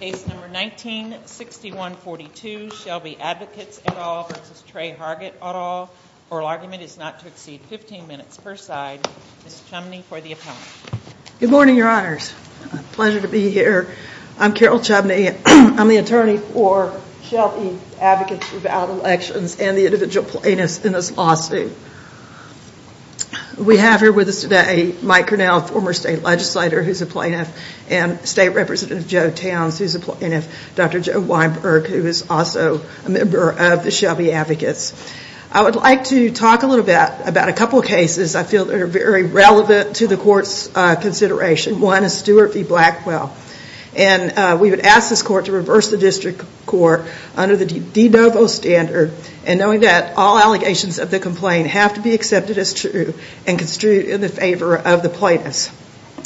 Case number 19-6142, Shelby Advocates et al. v. Tre Hargett et al. Oral argument is not to exceed 15 minutes per side. Ms. Chumney for the appellant. Good morning, your honors. Pleasure to be here. I'm Carol Chumney. I'm the attorney for Shelby Advocates without Elections and the individual plaintiffs in this lawsuit. We have here with us today Mike Cornell, former state legislator who is a plaintiff, and State Representative Joe Towns who is a plaintiff, Dr. Joe Weinberg who is also a member of the Shelby Advocates. I would like to talk a little bit about a couple of cases I feel are very relevant to the court's consideration. One is Stewart v. Blackwell. And we would ask this court to reverse the district court under the de novo standard and knowing that all allegations of the complaint have to be accepted as true and construed in the favor of the plaintiffs.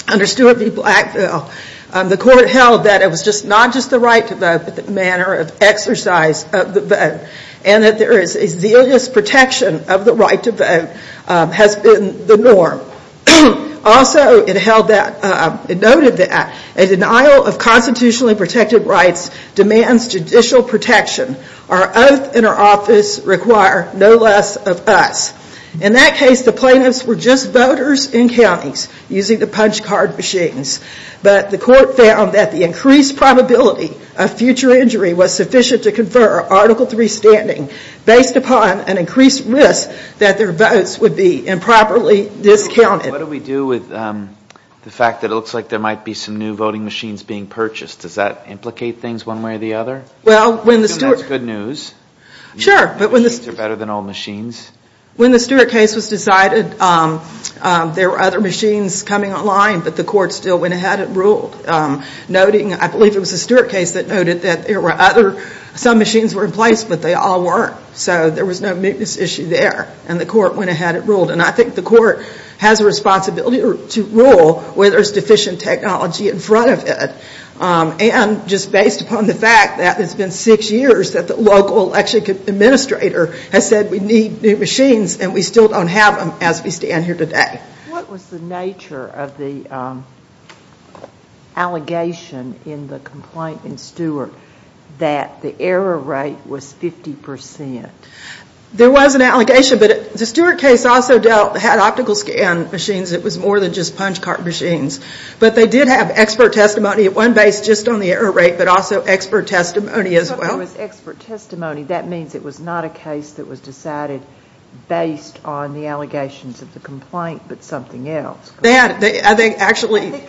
Under Stewart v. Blackwell, the court held that it was not just the right to vote but the manner of exercise of the vote and that there is a zealous protection of the right to vote has been the norm. Also, it noted that a denial of constitutionally protected rights demands judicial protection. Our oath and our office require no less of us. In that case, the plaintiffs were just voters in counties using the punch card machines. But the court found that the increased probability of future injury was sufficient to confer Article III standing based upon an increased risk that their votes would be improperly discounted. What do we do with the fact that it looks like there might be some new voting machines being purchased? Does that implicate things one way or the other? I assume that's good news. Sure. New machines are better than old machines. When the Stewart case was decided, there were other machines coming online, but the court still went ahead and ruled. Noting, I believe it was the Stewart case that noted that there were other, some machines were in place, but they all weren't. So there was no mootness issue there, and the court went ahead and ruled. And I think the court has a responsibility to rule where there's deficient technology in front of it. And just based upon the fact that it's been six years that the local election administrator has said we need new machines and we still don't have them as we stand here today. What was the nature of the allegation in the complaint in Stewart that the error rate was 50%? There was an allegation, but the Stewart case also dealt, had optical scan machines. It was more than just punch card machines. But they did have expert testimony, one based just on the error rate, but also expert testimony as well. But there was expert testimony. That means it was not a case that was decided based on the allegations of the complaint but something else. They had. They actually.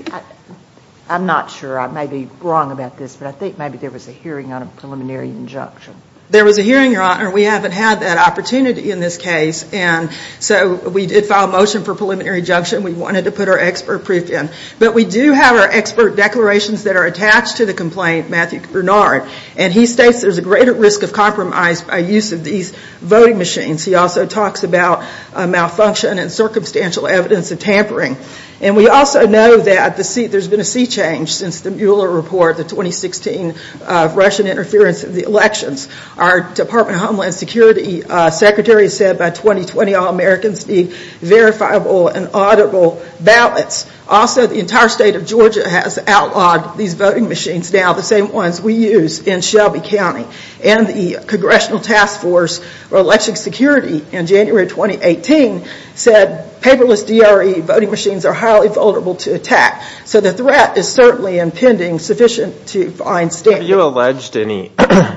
I'm not sure. I may be wrong about this, but I think maybe there was a hearing on a preliminary injunction. There was a hearing, Your Honor. We haven't had that opportunity in this case. And so we did file a motion for preliminary injunction. We wanted to put our expert brief in. But we do have our expert declarations that are attached to the complaint, Matthew Bernard. And he states there's a greater risk of compromise by use of these voting machines. He also talks about malfunction and circumstantial evidence of tampering. And we also know that there's been a sea change since the Mueller report, the 2016 Russian interference in the elections. Our Department of Homeland Security Secretary said by 2020 all Americans need verifiable and auditable ballots. Also, the entire state of Georgia has outlawed these voting machines now, the same ones we use in Shelby County. And the Congressional Task Force for Election Security in January 2018 said paperless DRE voting machines are highly vulnerable to attack. So the threat is certainly impending sufficient to find standards. Have you alleged any,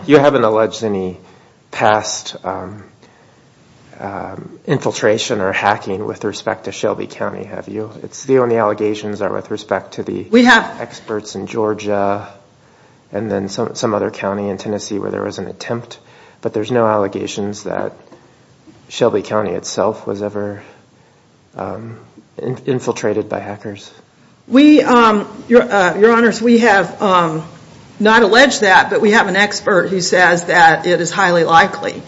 you haven't alleged any past infiltration or hacking with respect to Shelby County, have you? The only allegations are with respect to the experts in Georgia and then some other county in Tennessee where there was an attempt. But there's no allegations that Shelby County itself was ever infiltrated by hackers? We, Your Honors, we have not alleged that, but we have an expert who says that it is highly likely.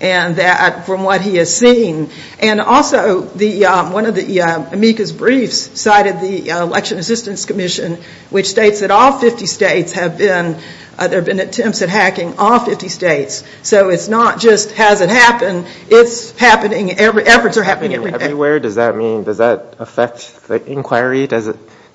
And that from what he has seen, and also one of the amicus briefs cited the Election Assistance Commission, which states that all 50 states have been, there have been attempts at hacking all 50 states. So it's not just has it happened, it's happening, efforts are happening everywhere. Everywhere? Does that mean, does that affect the inquiry?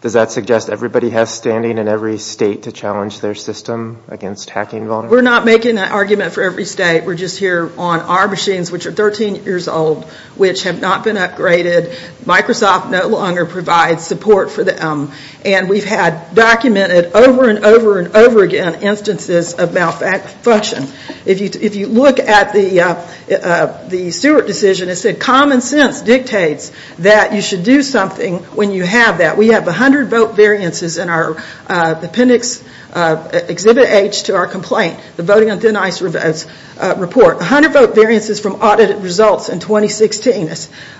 Does that suggest everybody has standing in every state to challenge their system against hacking vulnerabilities? We're not making that argument for every state. We're just here on our machines, which are 13 years old, which have not been upgraded. Microsoft no longer provides support for them. And we've had documented over and over and over again instances of malfunction. If you look at the Stewart decision, it said common sense dictates that you should do something when you have that. We have 100 vote variances in our appendix exhibit H to our complaint, the Voting on Thin Ice report. 100 vote variances from audited results in 2016.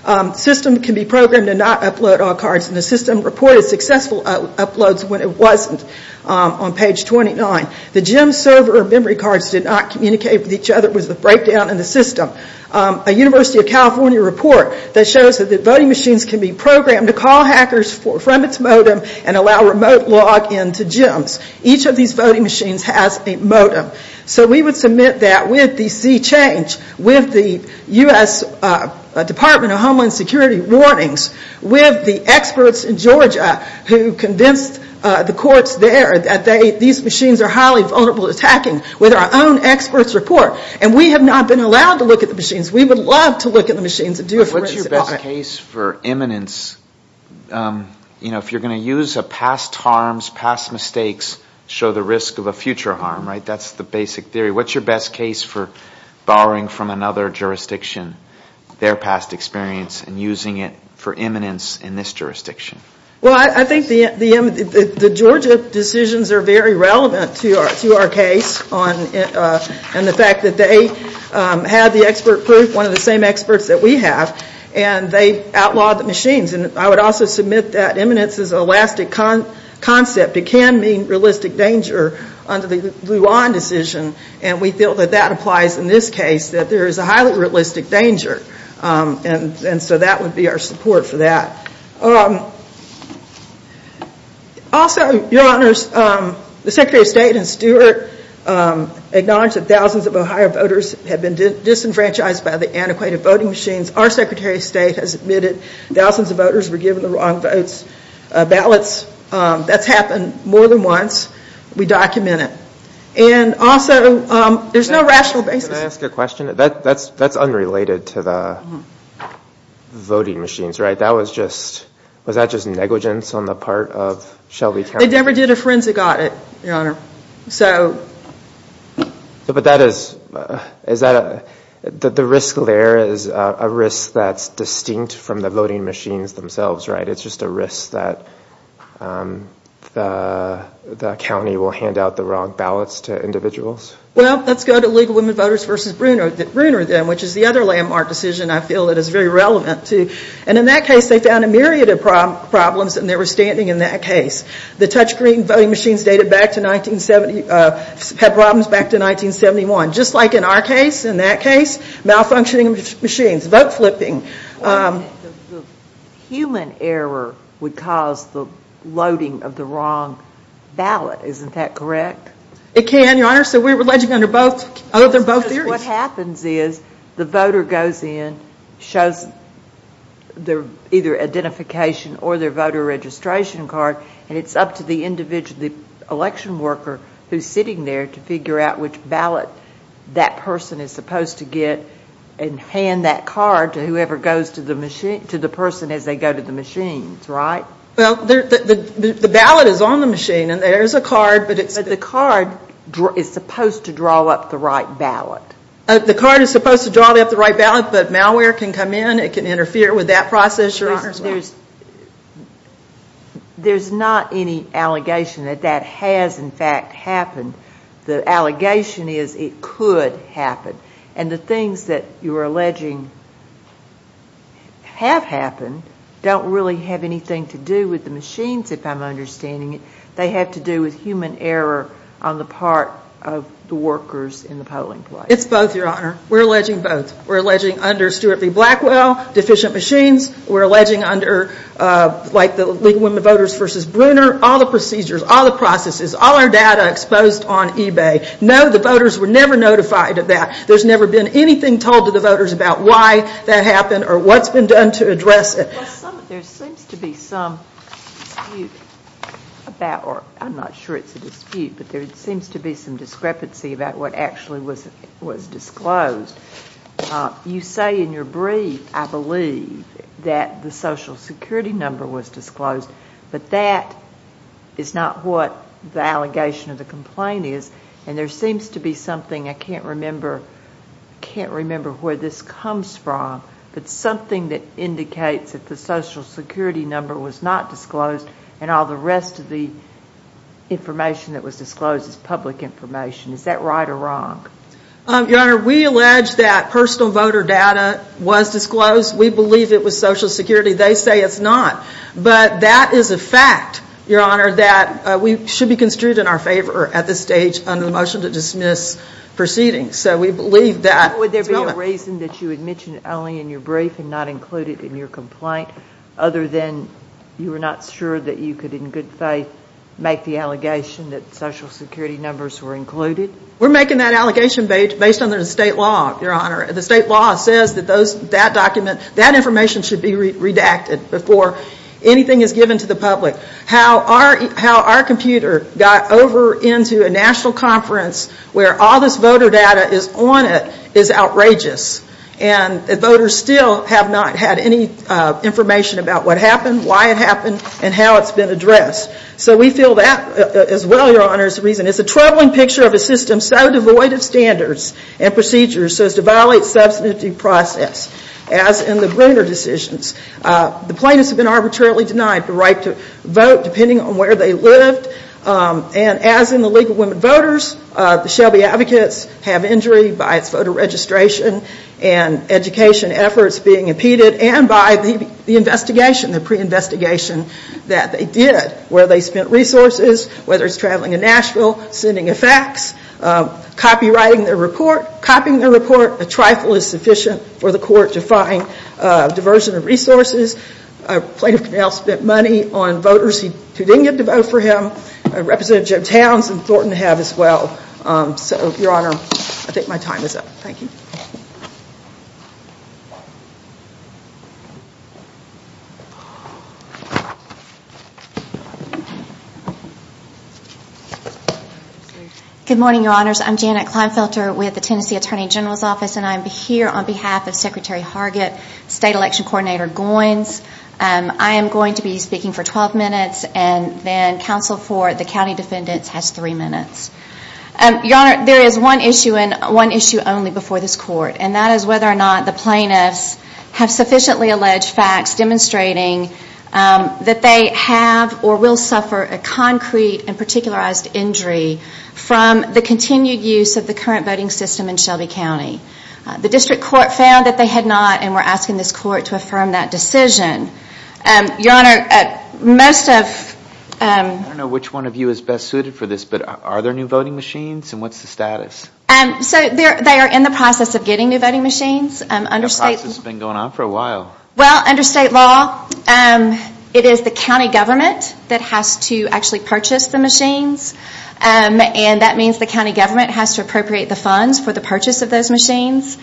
A system can be programmed to not upload all cards, and the system reported successful uploads when it wasn't on page 29. The gym server memory cards did not communicate with each other. It was the breakdown in the system. A University of California report that shows that voting machines can be programmed to call hackers from its modem and allow remote log in to gyms. Each of these voting machines has a modem. So we would submit that with the sea change, with the U.S. Department of Homeland Security warnings, with the experts in Georgia who convinced the courts there that these machines are highly vulnerable to attacking with our own experts' report. And we have not been allowed to look at the machines. We would love to look at the machines and do a forensic audit. What's your best case for imminence? You know, if you're going to use past harms, past mistakes, show the risk of a future harm, right? That's the basic theory. What's your best case for borrowing from another jurisdiction their past experience and using it for imminence in this jurisdiction? Well, I think the Georgia decisions are very relevant to our case and the fact that they had the expert proof, one of the same experts that we have, and they outlawed the machines. And I would also submit that imminence is an elastic concept. It can mean realistic danger under the Luan decision. And we feel that that applies in this case, that there is a highly realistic danger. And so that would be our support for that. Also, Your Honors, the Secretary of State and Stewart acknowledged that thousands of Ohio voters had been disenfranchised by the antiquated voting machines. Our Secretary of State has admitted thousands of voters were given the wrong ballots. That's happened more than once. We document it. And also, there's no rational basis. Can I ask a question? That's unrelated to the voting machines, right? That was just, was that just negligence on the part of Shelby County? They never did a forensic audit, Your Honor. So. But that is, is that a, the risk there is a risk that's distinct from the voting machines themselves, right? It's just a risk that the county will hand out the wrong ballots to individuals? Well, let's go to Legal Women Voters v. Bruner then, which is the other landmark decision I feel that is very relevant to. And in that case, they found a myriad of problems and they were standing in that case. The touchscreen voting machines dated back to 1970, had problems back to 1971. Just like in our case, in that case, malfunctioning machines, vote flipping. The human error would cause the loading of the wrong ballot, isn't that correct? It can, Your Honor. So we're alleging under both, under both theories. What happens is the voter goes in, shows their either identification or their voter registration card, and it's up to the individual, the election worker who's sitting there to figure out which ballot that person is supposed to get and hand that card to whoever goes to the machine, to the person as they go to the machines, right? Well, the ballot is on the machine and there's a card, but it's But the card is supposed to draw up the right ballot. The card is supposed to draw up the right ballot, but malware can come in, it can interfere with that process, Your Honor. There's not any allegation that that has in fact happened. The allegation is it could happen. And the things that you're alleging have happened don't really have anything to do with the machines, if I'm understanding it. They have to do with human error on the part of the workers in the polling place. It's both, Your Honor. We're alleging both. We're alleging under Stuart v. Blackwell, deficient machines. We're alleging under, like, the League of Women Voters v. Bruner, all the procedures, all the processes, all our data exposed on eBay. No, the voters were never notified of that. There's never been anything told to the voters about why that happened or what's been done to address it. Well, there seems to be some dispute about, or I'm not sure it's a dispute, but there seems to be some discrepancy about what actually was disclosed. You say in your brief, I believe, that the Social Security number was disclosed, but that is not what the allegation of the complaint is. And there seems to be something, I can't remember where this comes from, but something that indicates that the Social Security number was not disclosed and all the rest of the information that was disclosed is public information. Is that right or wrong? Your Honor, we allege that personal voter data was disclosed. We believe it was Social Security. They say it's not, but that is a fact, Your Honor, that we should be construed in our favor at this stage under the motion to dismiss proceedings. So we believe that. Would there be a reason that you had mentioned it only in your brief and not included in your complaint other than you were not sure that you could, in good faith, make the allegation that Social Security numbers were included? We're making that allegation based on the state law, Your Honor. The state law says that that document, that information should be redacted before anything is given to the public. How our computer got over into a national conference where all this voter data is on it is outrageous. And voters still have not had any information about what happened, why it happened, and how it's been addressed. So we feel that as well, Your Honor, is the reason. so devoid of standards and procedures so as to violate substantive process, as in the Bruner decisions. The plaintiffs have been arbitrarily denied the right to vote depending on where they lived. And as in the League of Women Voters, the Shelby advocates have injury by its voter registration and education efforts being impeded and by the investigation, the pre-investigation that they did, where they spent resources, whether it's traveling in Nashville, sending a fax, copywriting their report, copying their report. A trifle is sufficient for the court to find diversion of resources. Plaintiff Connell spent money on voters who didn't get to vote for him. Representative Joe Towns and Thornton have as well. So, Your Honor, I think my time is up. Thank you. Good morning, Your Honors. I'm Janet Kleinfelter with the Tennessee Attorney General's Office, and I'm here on behalf of Secretary Hargett, State Election Coordinator Goins. I am going to be speaking for 12 minutes, and then counsel for the county defendants has three minutes. Your Honor, there is one issue and one issue only before this court, and that is whether or not the plaintiffs have sufficiently alleged facts demonstrating that they have or will suffer a concrete and particularized injury from the continued use of the current voting system in Shelby County. The district court found that they had not, and we're asking this court to affirm that decision. Your Honor, most of... I don't know which one of you is best suited for this, but are there new voting machines, and what's the status? So, they are in the process of getting new voting machines. The process has been going on for a while. Well, under state law, it is the county government that has to actually purchase the machines, and that means the county government has to appropriate the funds for the purchase of those machines.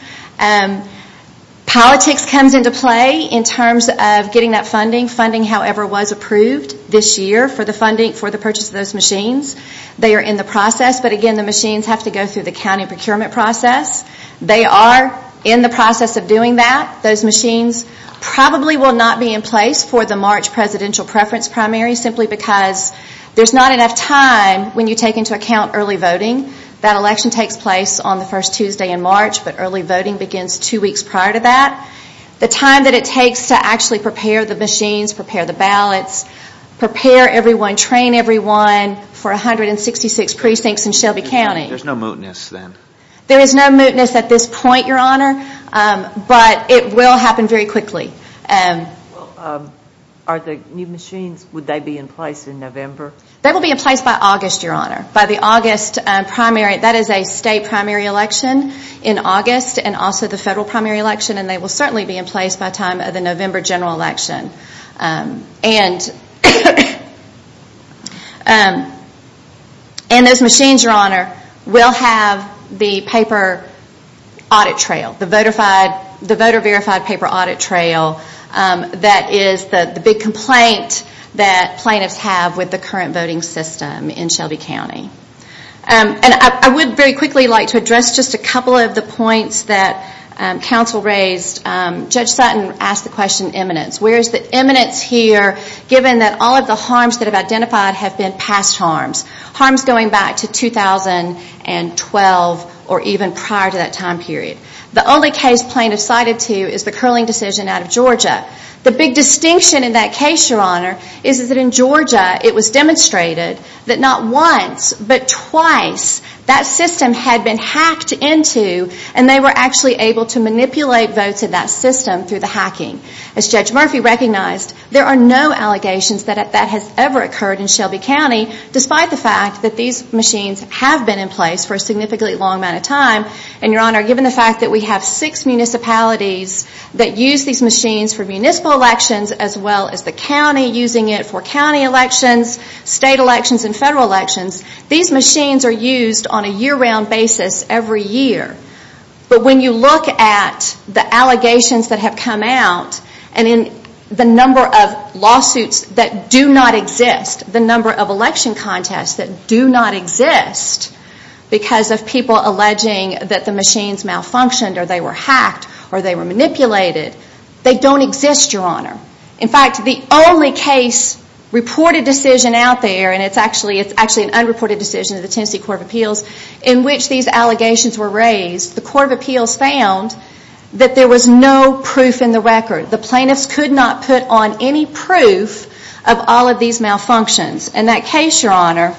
Politics comes into play in terms of getting that funding. Funding, however, was approved this year for the funding for the purchase of those machines. They are in the process, but again, the machines have to go through the county procurement process. They are in the process of doing that. Those machines probably will not be in place for the March presidential preference primary simply because there's not enough time when you take into account early voting. That election takes place on the first Tuesday in March, but early voting begins two weeks prior to that. The time that it takes to actually prepare the machines, prepare the ballots, prepare everyone, train everyone for 166 precincts in Shelby County... There's no mootness then? There is no mootness at this point, Your Honor, but it will happen very quickly. Are the new machines, would they be in place in November? They will be in place by August, Your Honor, by the August primary. That is a state primary election in August and also the federal primary election, and they will certainly be in place by the time of the November general election. And those machines, Your Honor, will have the paper audit trail, the voter verified paper audit trail that is the big complaint that plaintiffs have with the current voting system in Shelby County. I would very quickly like to address just a couple of the points that counsel raised. Judge Sutton asked the question of eminence. Where is the eminence here given that all of the harms that have been identified have been past harms, harms going back to 2012 or even prior to that time period? The only case plaintiffs cited to you is the curling decision out of Georgia. The big distinction in that case, Your Honor, is that in Georgia it was demonstrated that not once but twice that system had been hacked into and they were actually able to manipulate votes in that system through the hacking. As Judge Murphy recognized, there are no allegations that that has ever occurred in Shelby County despite the fact that these machines have been in place for a significantly long amount of time. And, Your Honor, given the fact that we have six municipalities that use these machines for municipal elections as well as the county using it for county elections, state elections, and federal elections, these machines are used on a year-round basis every year. But when you look at the allegations that have come out and in the number of lawsuits that do not exist, the number of election contests that do not exist because of people alleging that the machines malfunctioned or they were hacked or they were manipulated, they don't exist, Your Honor. In fact, the only case reported decision out there, and it's actually an unreported decision of the Tennessee Court of Appeals, in which these allegations were raised, the Court of Appeals found that there was no proof in the record. The plaintiffs could not put on any proof of all of these malfunctions. And that case, Your Honor,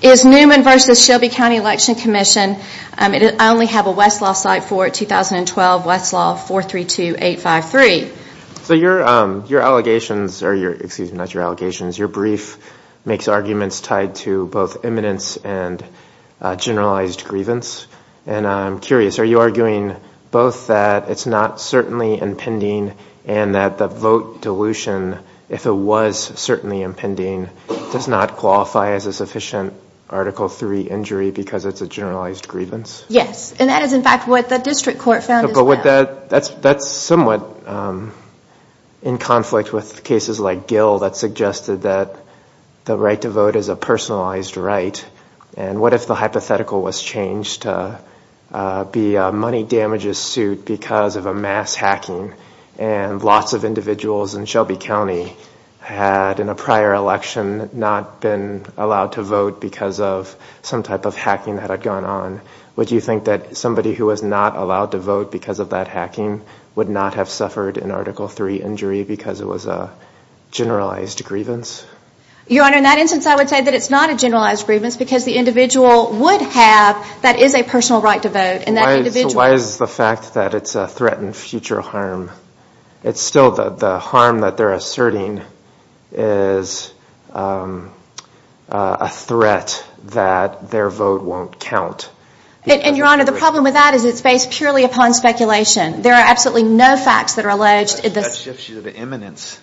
is Newman v. Shelby County Election Commission. I only have a Westlaw site for it, 2012, Westlaw 432-853. So your allegations, or excuse me, not your allegations, your brief makes arguments tied to both eminence and generalized grievance. And I'm curious, are you arguing both that it's not certainly impending and that the vote dilution, if it was certainly impending, does not qualify as a sufficient Article III injury because it's a generalized grievance? Yes, and that is in fact what the district court found as well. But that's somewhat in conflict with cases like Gill that suggested that the right to vote is a personalized right. And what if the hypothetical was changed to be a money damages suit because of a mass hacking, and lots of individuals in Shelby County had in a prior election not been allowed to vote because of some type of hacking that had gone on. Would you think that somebody who was not allowed to vote because of that hacking would not have suffered an Article III injury because it was a generalized grievance? Your Honor, in that instance I would say that it's not a generalized grievance because the individual would have, that is a personal right to vote. So why is the fact that it's a threat and future harm? It's still the harm that they're asserting is a threat that their vote won't count. And Your Honor, the problem with that is it's based purely upon speculation. There are absolutely no facts that are alleged. That shifts you to eminence.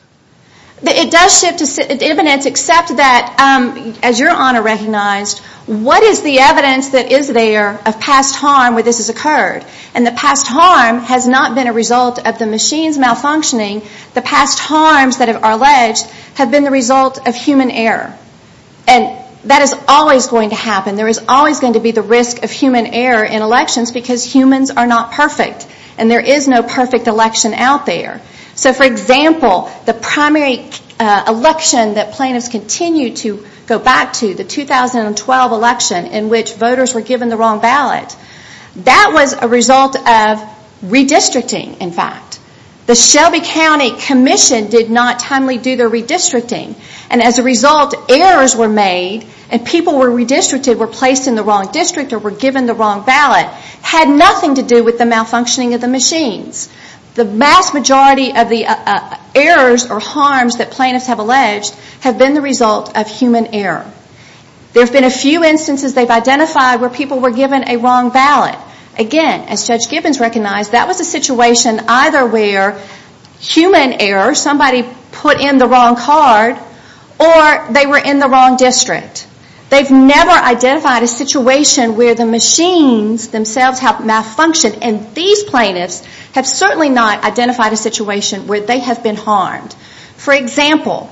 It does shift to eminence except that, as Your Honor recognized, what is the evidence that is there of past harm where this has occurred? And the past harm has not been a result of the machines malfunctioning. The past harms that are alleged have been the result of human error. And that is always going to happen. There is always going to be the risk of human error in elections because humans are not perfect. And there is no perfect election out there. So, for example, the primary election that plaintiffs continued to go back to, the 2012 election in which voters were given the wrong ballot, that was a result of redistricting, in fact. The Shelby County Commission did not timely do their redistricting. And as a result, errors were made and people were redistricted and people were placed in the wrong district or were given the wrong ballot. It had nothing to do with the malfunctioning of the machines. The vast majority of the errors or harms that plaintiffs have alleged have been the result of human error. There have been a few instances they've identified where people were given a wrong ballot. Again, as Judge Gibbons recognized, that was a situation either where human error, somebody put in the wrong card, or they were in the wrong district. They've never identified a situation where the machines themselves have malfunctioned. And these plaintiffs have certainly not identified a situation where they have been harmed. For example,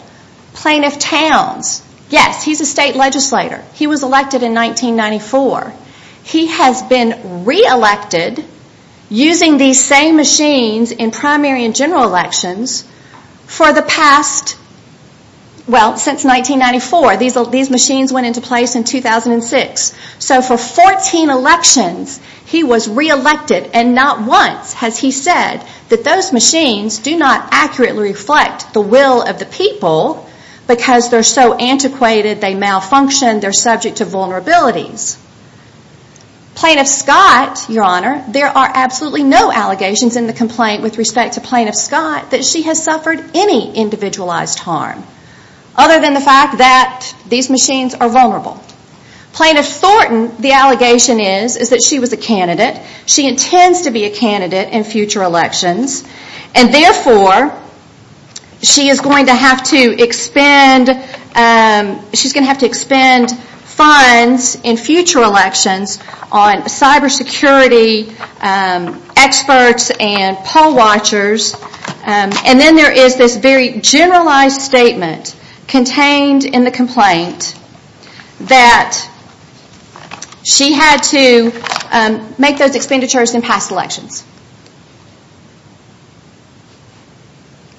Plaintiff Towns. Yes, he's a state legislator. He was elected in 1994. He has been reelected using these same machines in primary and general elections for the past, well, since 1994. These machines went into place in 2006. So for 14 elections, he was reelected and not once has he said that those machines do not accurately reflect the will of the people because they're so antiquated, they malfunction, they're subject to vulnerabilities. Plaintiff Scott, Your Honor, there are absolutely no allegations in the complaint with respect to Plaintiff Scott that she has suffered any individualized harm. Other than the fact that these machines are vulnerable. Plaintiff Thornton, the allegation is, is that she was a candidate. She intends to be a candidate in future elections. And therefore, she is going to have to expend funds in future elections on cyber security experts and poll watchers. And then there is this very generalized statement contained in the complaint that she had to make those expenditures in past elections.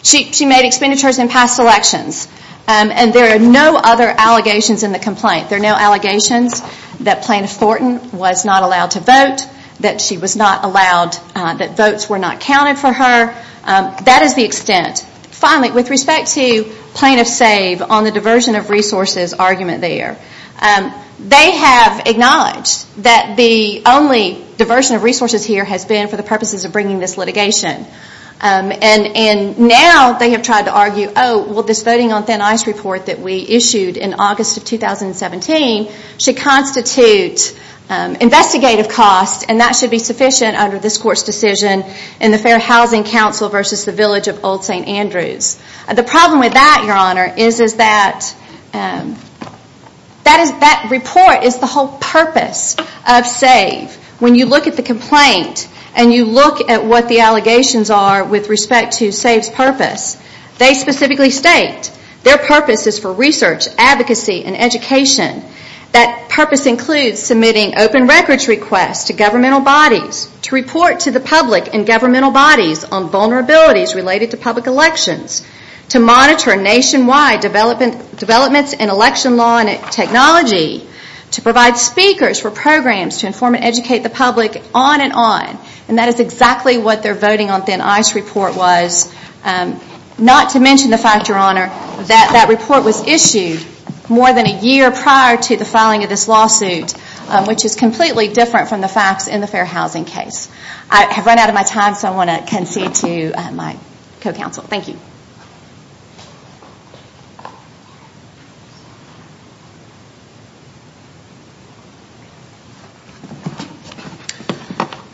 She made expenditures in past elections. And there are no other allegations in the complaint. There are no allegations that Plaintiff Thornton was not allowed to vote, that she was not allowed, that votes were not counted for her. That is the extent. Finally, with respect to Plaintiff Save on the diversion of resources argument there. They have acknowledged that the only diversion of resources here has been for the purposes of bringing this litigation. And now they have tried to argue, oh, well this voting on thin ice report that we issued in August of 2017 should constitute investigative costs and that should be sufficient under this Court's decision in the Fair Housing Council versus the Village of Old St. Andrews. The problem with that, Your Honor, is that that report is the whole purpose of Save. When you look at the complaint and you look at what the allegations are with respect to Save's purpose, they specifically state their purpose is for research, advocacy, and education. That purpose includes submitting open records requests to governmental bodies, to report to the public and governmental bodies on vulnerabilities related to public elections, to monitor nationwide developments in election law and technology, to provide speakers for programs to inform and educate the public, on and on. And that is exactly what their voting on thin ice report was. Not to mention the fact, Your Honor, that that report was issued more than a year prior to the filing of this lawsuit, which is completely different from the facts in the Fair Housing case. I have run out of my time, so I want to concede to my co-counsel. Thank you.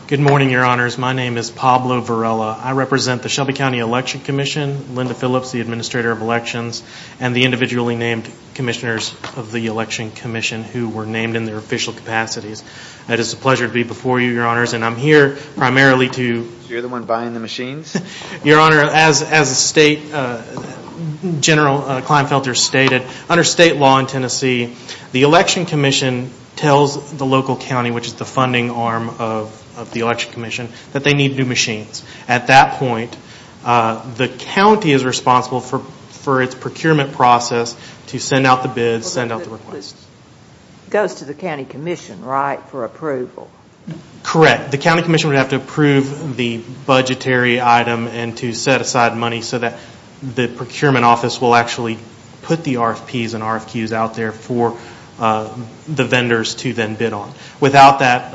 Good morning, Your Honors. My name is Pablo Varela. I represent the Shelby County Election Commission, Linda Phillips, the Administrator of Elections, and the individually named commissioners of the Election Commission, who were named in their official capacities. It is a pleasure to be before you, Your Honors, and I'm here primarily to You're the one buying the machines? Your Honor, as General Kleinfelter stated, under state law in Tennessee, the Election Commission tells the local county, which is the funding arm of the Election Commission, that they need new machines. At that point, the county is responsible for its procurement process to send out the bids, send out the requests. It goes to the county commission, right, for approval? Correct. The county commission would have to approve the budgetary item and to set aside money so that the procurement office will actually put the RFPs and RFQs out there for the vendors to then bid on. Without that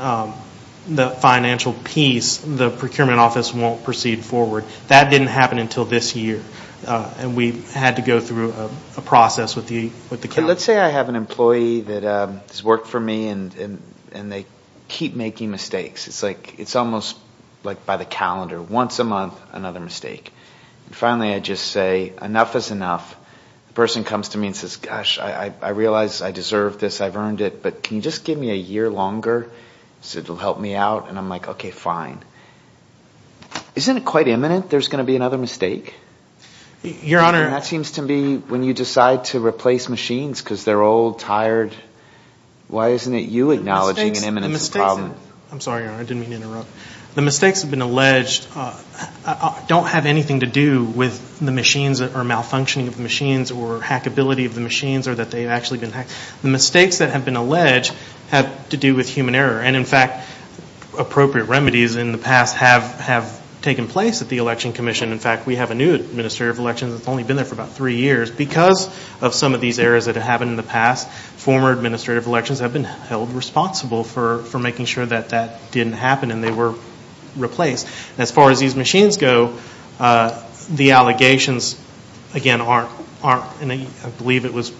financial piece, the procurement office won't proceed forward. That didn't happen until this year. We had to go through a process with the county. Let's say I have an employee that has worked for me and they keep making mistakes. It's almost like by the calendar, once a month, another mistake. Finally, I just say, enough is enough. The person comes to me and says, gosh, I realize I deserve this, I've earned it, but can you just give me a year longer so it will help me out? I'm like, okay, fine. Isn't it quite imminent there's going to be another mistake? Your Honor. That seems to be when you decide to replace machines because they're old, tired. Why isn't it you acknowledging an imminent problem? I'm sorry, Your Honor. I didn't mean to interrupt. The mistakes that have been alleged don't have anything to do with the machines or malfunctioning of the machines or hackability of the machines or that they've actually been hacked. The mistakes that have been alleged have to do with human error. In fact, appropriate remedies in the past have taken place at the Election Commission. In fact, we have a new Administrative Elections that's only been there for about three years. Because of some of these errors that have happened in the past, former Administrative Elections have been held responsible for making sure that that didn't happen and they were replaced. As far as these machines go, the allegations, again, I believe it was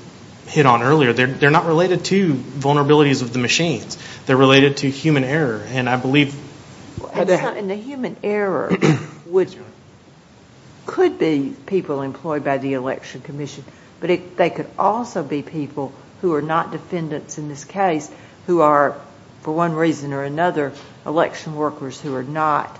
hit on earlier, they're not related to vulnerabilities of the machines. They're related to human error, and I believe... And the human error could be people employed by the Election Commission, but they could also be people who are not defendants in this case who are, for one reason or another, election workers who are not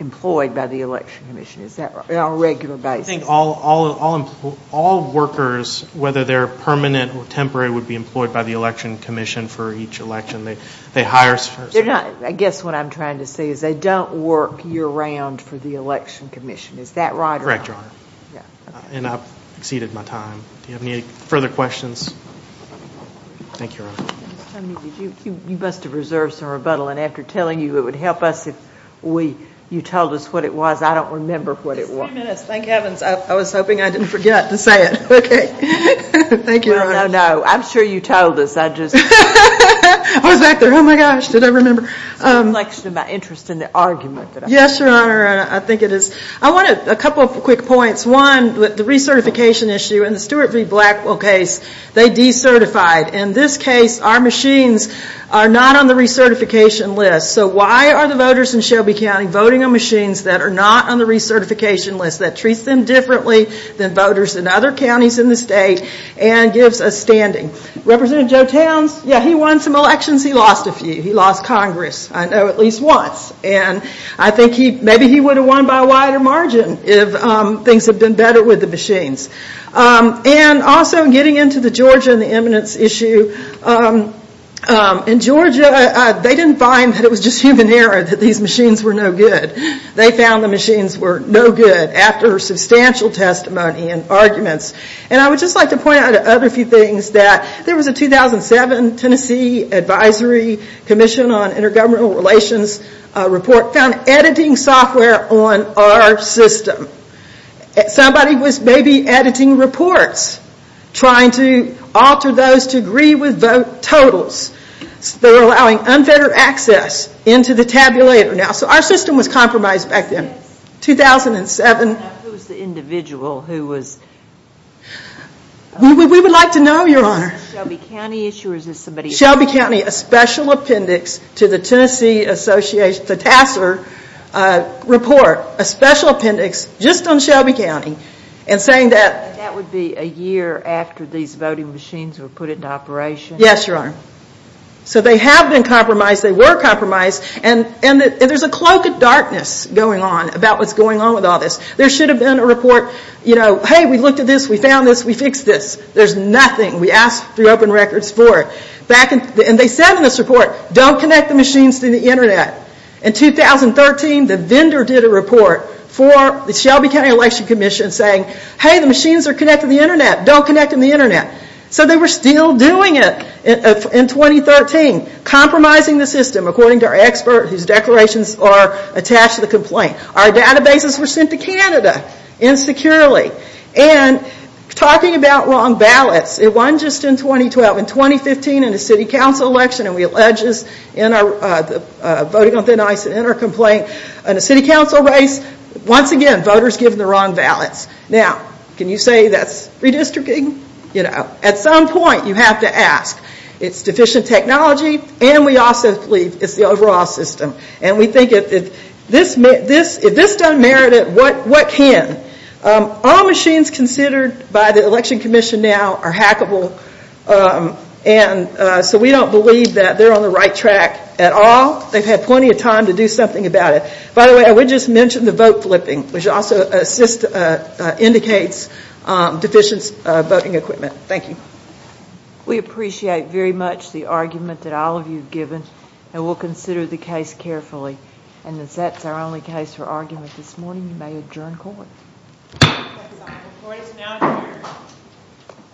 employed by the Election Commission. Is that right? On a regular basis. I think all workers, whether they're permanent or temporary, would be employed by the Election Commission for each election. They hire... I guess what I'm trying to say is they don't work year-round for the Election Commission. Is that right? Correct, Your Honor. And I've exceeded my time. Do you have any further questions? Thank you, Your Honor. You must have reserved some rebuttal, and after telling you it would help us if you told us what it was. I don't remember what it was. 20 minutes. Thank heavens. I was hoping I didn't forget to say it. Okay. Thank you, Your Honor. No, no, no. I'm sure you told us. I just... I was back there. Oh, my gosh. Did I remember? It's a reflection of my interest in the argument. Yes, Your Honor. I think it is. I want a couple of quick points. One, the recertification issue. In the Stuart v. Blackwell case, they decertified. In this case, our machines are not on the recertification list. So why are the voters in Shelby County voting on machines that are not on the recertification list that treats them differently than voters in other counties in the state and gives a standing? Representative Joe Towns, yeah, he won some elections. He lost a few. He lost Congress, I know, at least once. And I think maybe he would have won by a wider margin if things had been better with the machines. And also, getting into the Georgia and the eminence issue, in Georgia, they didn't find that it was just human error that these machines were no good. They found the machines were no good after substantial testimony and arguments. And I would just like to point out a few other things. There was a 2007 Tennessee Advisory Commission on Intergovernmental Relations report found editing software on our system. Somebody was maybe editing reports, trying to alter those to agree with vote totals. They were allowing unfettered access into the tabulator. Now, so our system was compromised back then. Yes. 2007. Now, who was the individual who was? We would like to know, Your Honor. Was this a Shelby County issue or was this somebody else? Shelby County, a special appendix to the Tennessee Association, the TASER report, a special appendix just on Shelby County, and saying that And that would be a year after these voting machines were put into operation? Yes, Your Honor. So they have been compromised. They were compromised. And there's a cloak of darkness going on about what's going on with all this. There should have been a report, you know, hey, we looked at this. We found this. We fixed this. There's nothing. We asked through open records for it. And they said in this report, don't connect the machines to the Internet. In 2013, the vendor did a report for the Shelby County Election Commission saying, hey, the machines are connected to the Internet. Don't connect them to the Internet. So they were still doing it in 2013, compromising the system, according to our expert whose declarations are attached to the complaint. Our databases were sent to Canada insecurely. And talking about wrong ballots, it won just in 2012. In 2015, in a city council election, and we allege this in our voting on thin ice and in our complaint, in a city council race, once again, voters give the wrong ballots. Now, can you say that's redistricting? You know, at some point, you have to ask. It's deficient technology, and we also believe it's the overall system. And we think if this doesn't merit it, what can? All machines considered by the Election Commission now are hackable, and so we don't believe that they're on the right track at all. They've had plenty of time to do something about it. By the way, I would just mention the vote flipping, which also indicates deficient voting equipment. Thank you. We appreciate very much the argument that all of you have given, and we'll consider the case carefully. And as that's our only case for argument this morning, you may adjourn court. Court is now adjourned. Thank you. Thank you. Thank you. Thank you.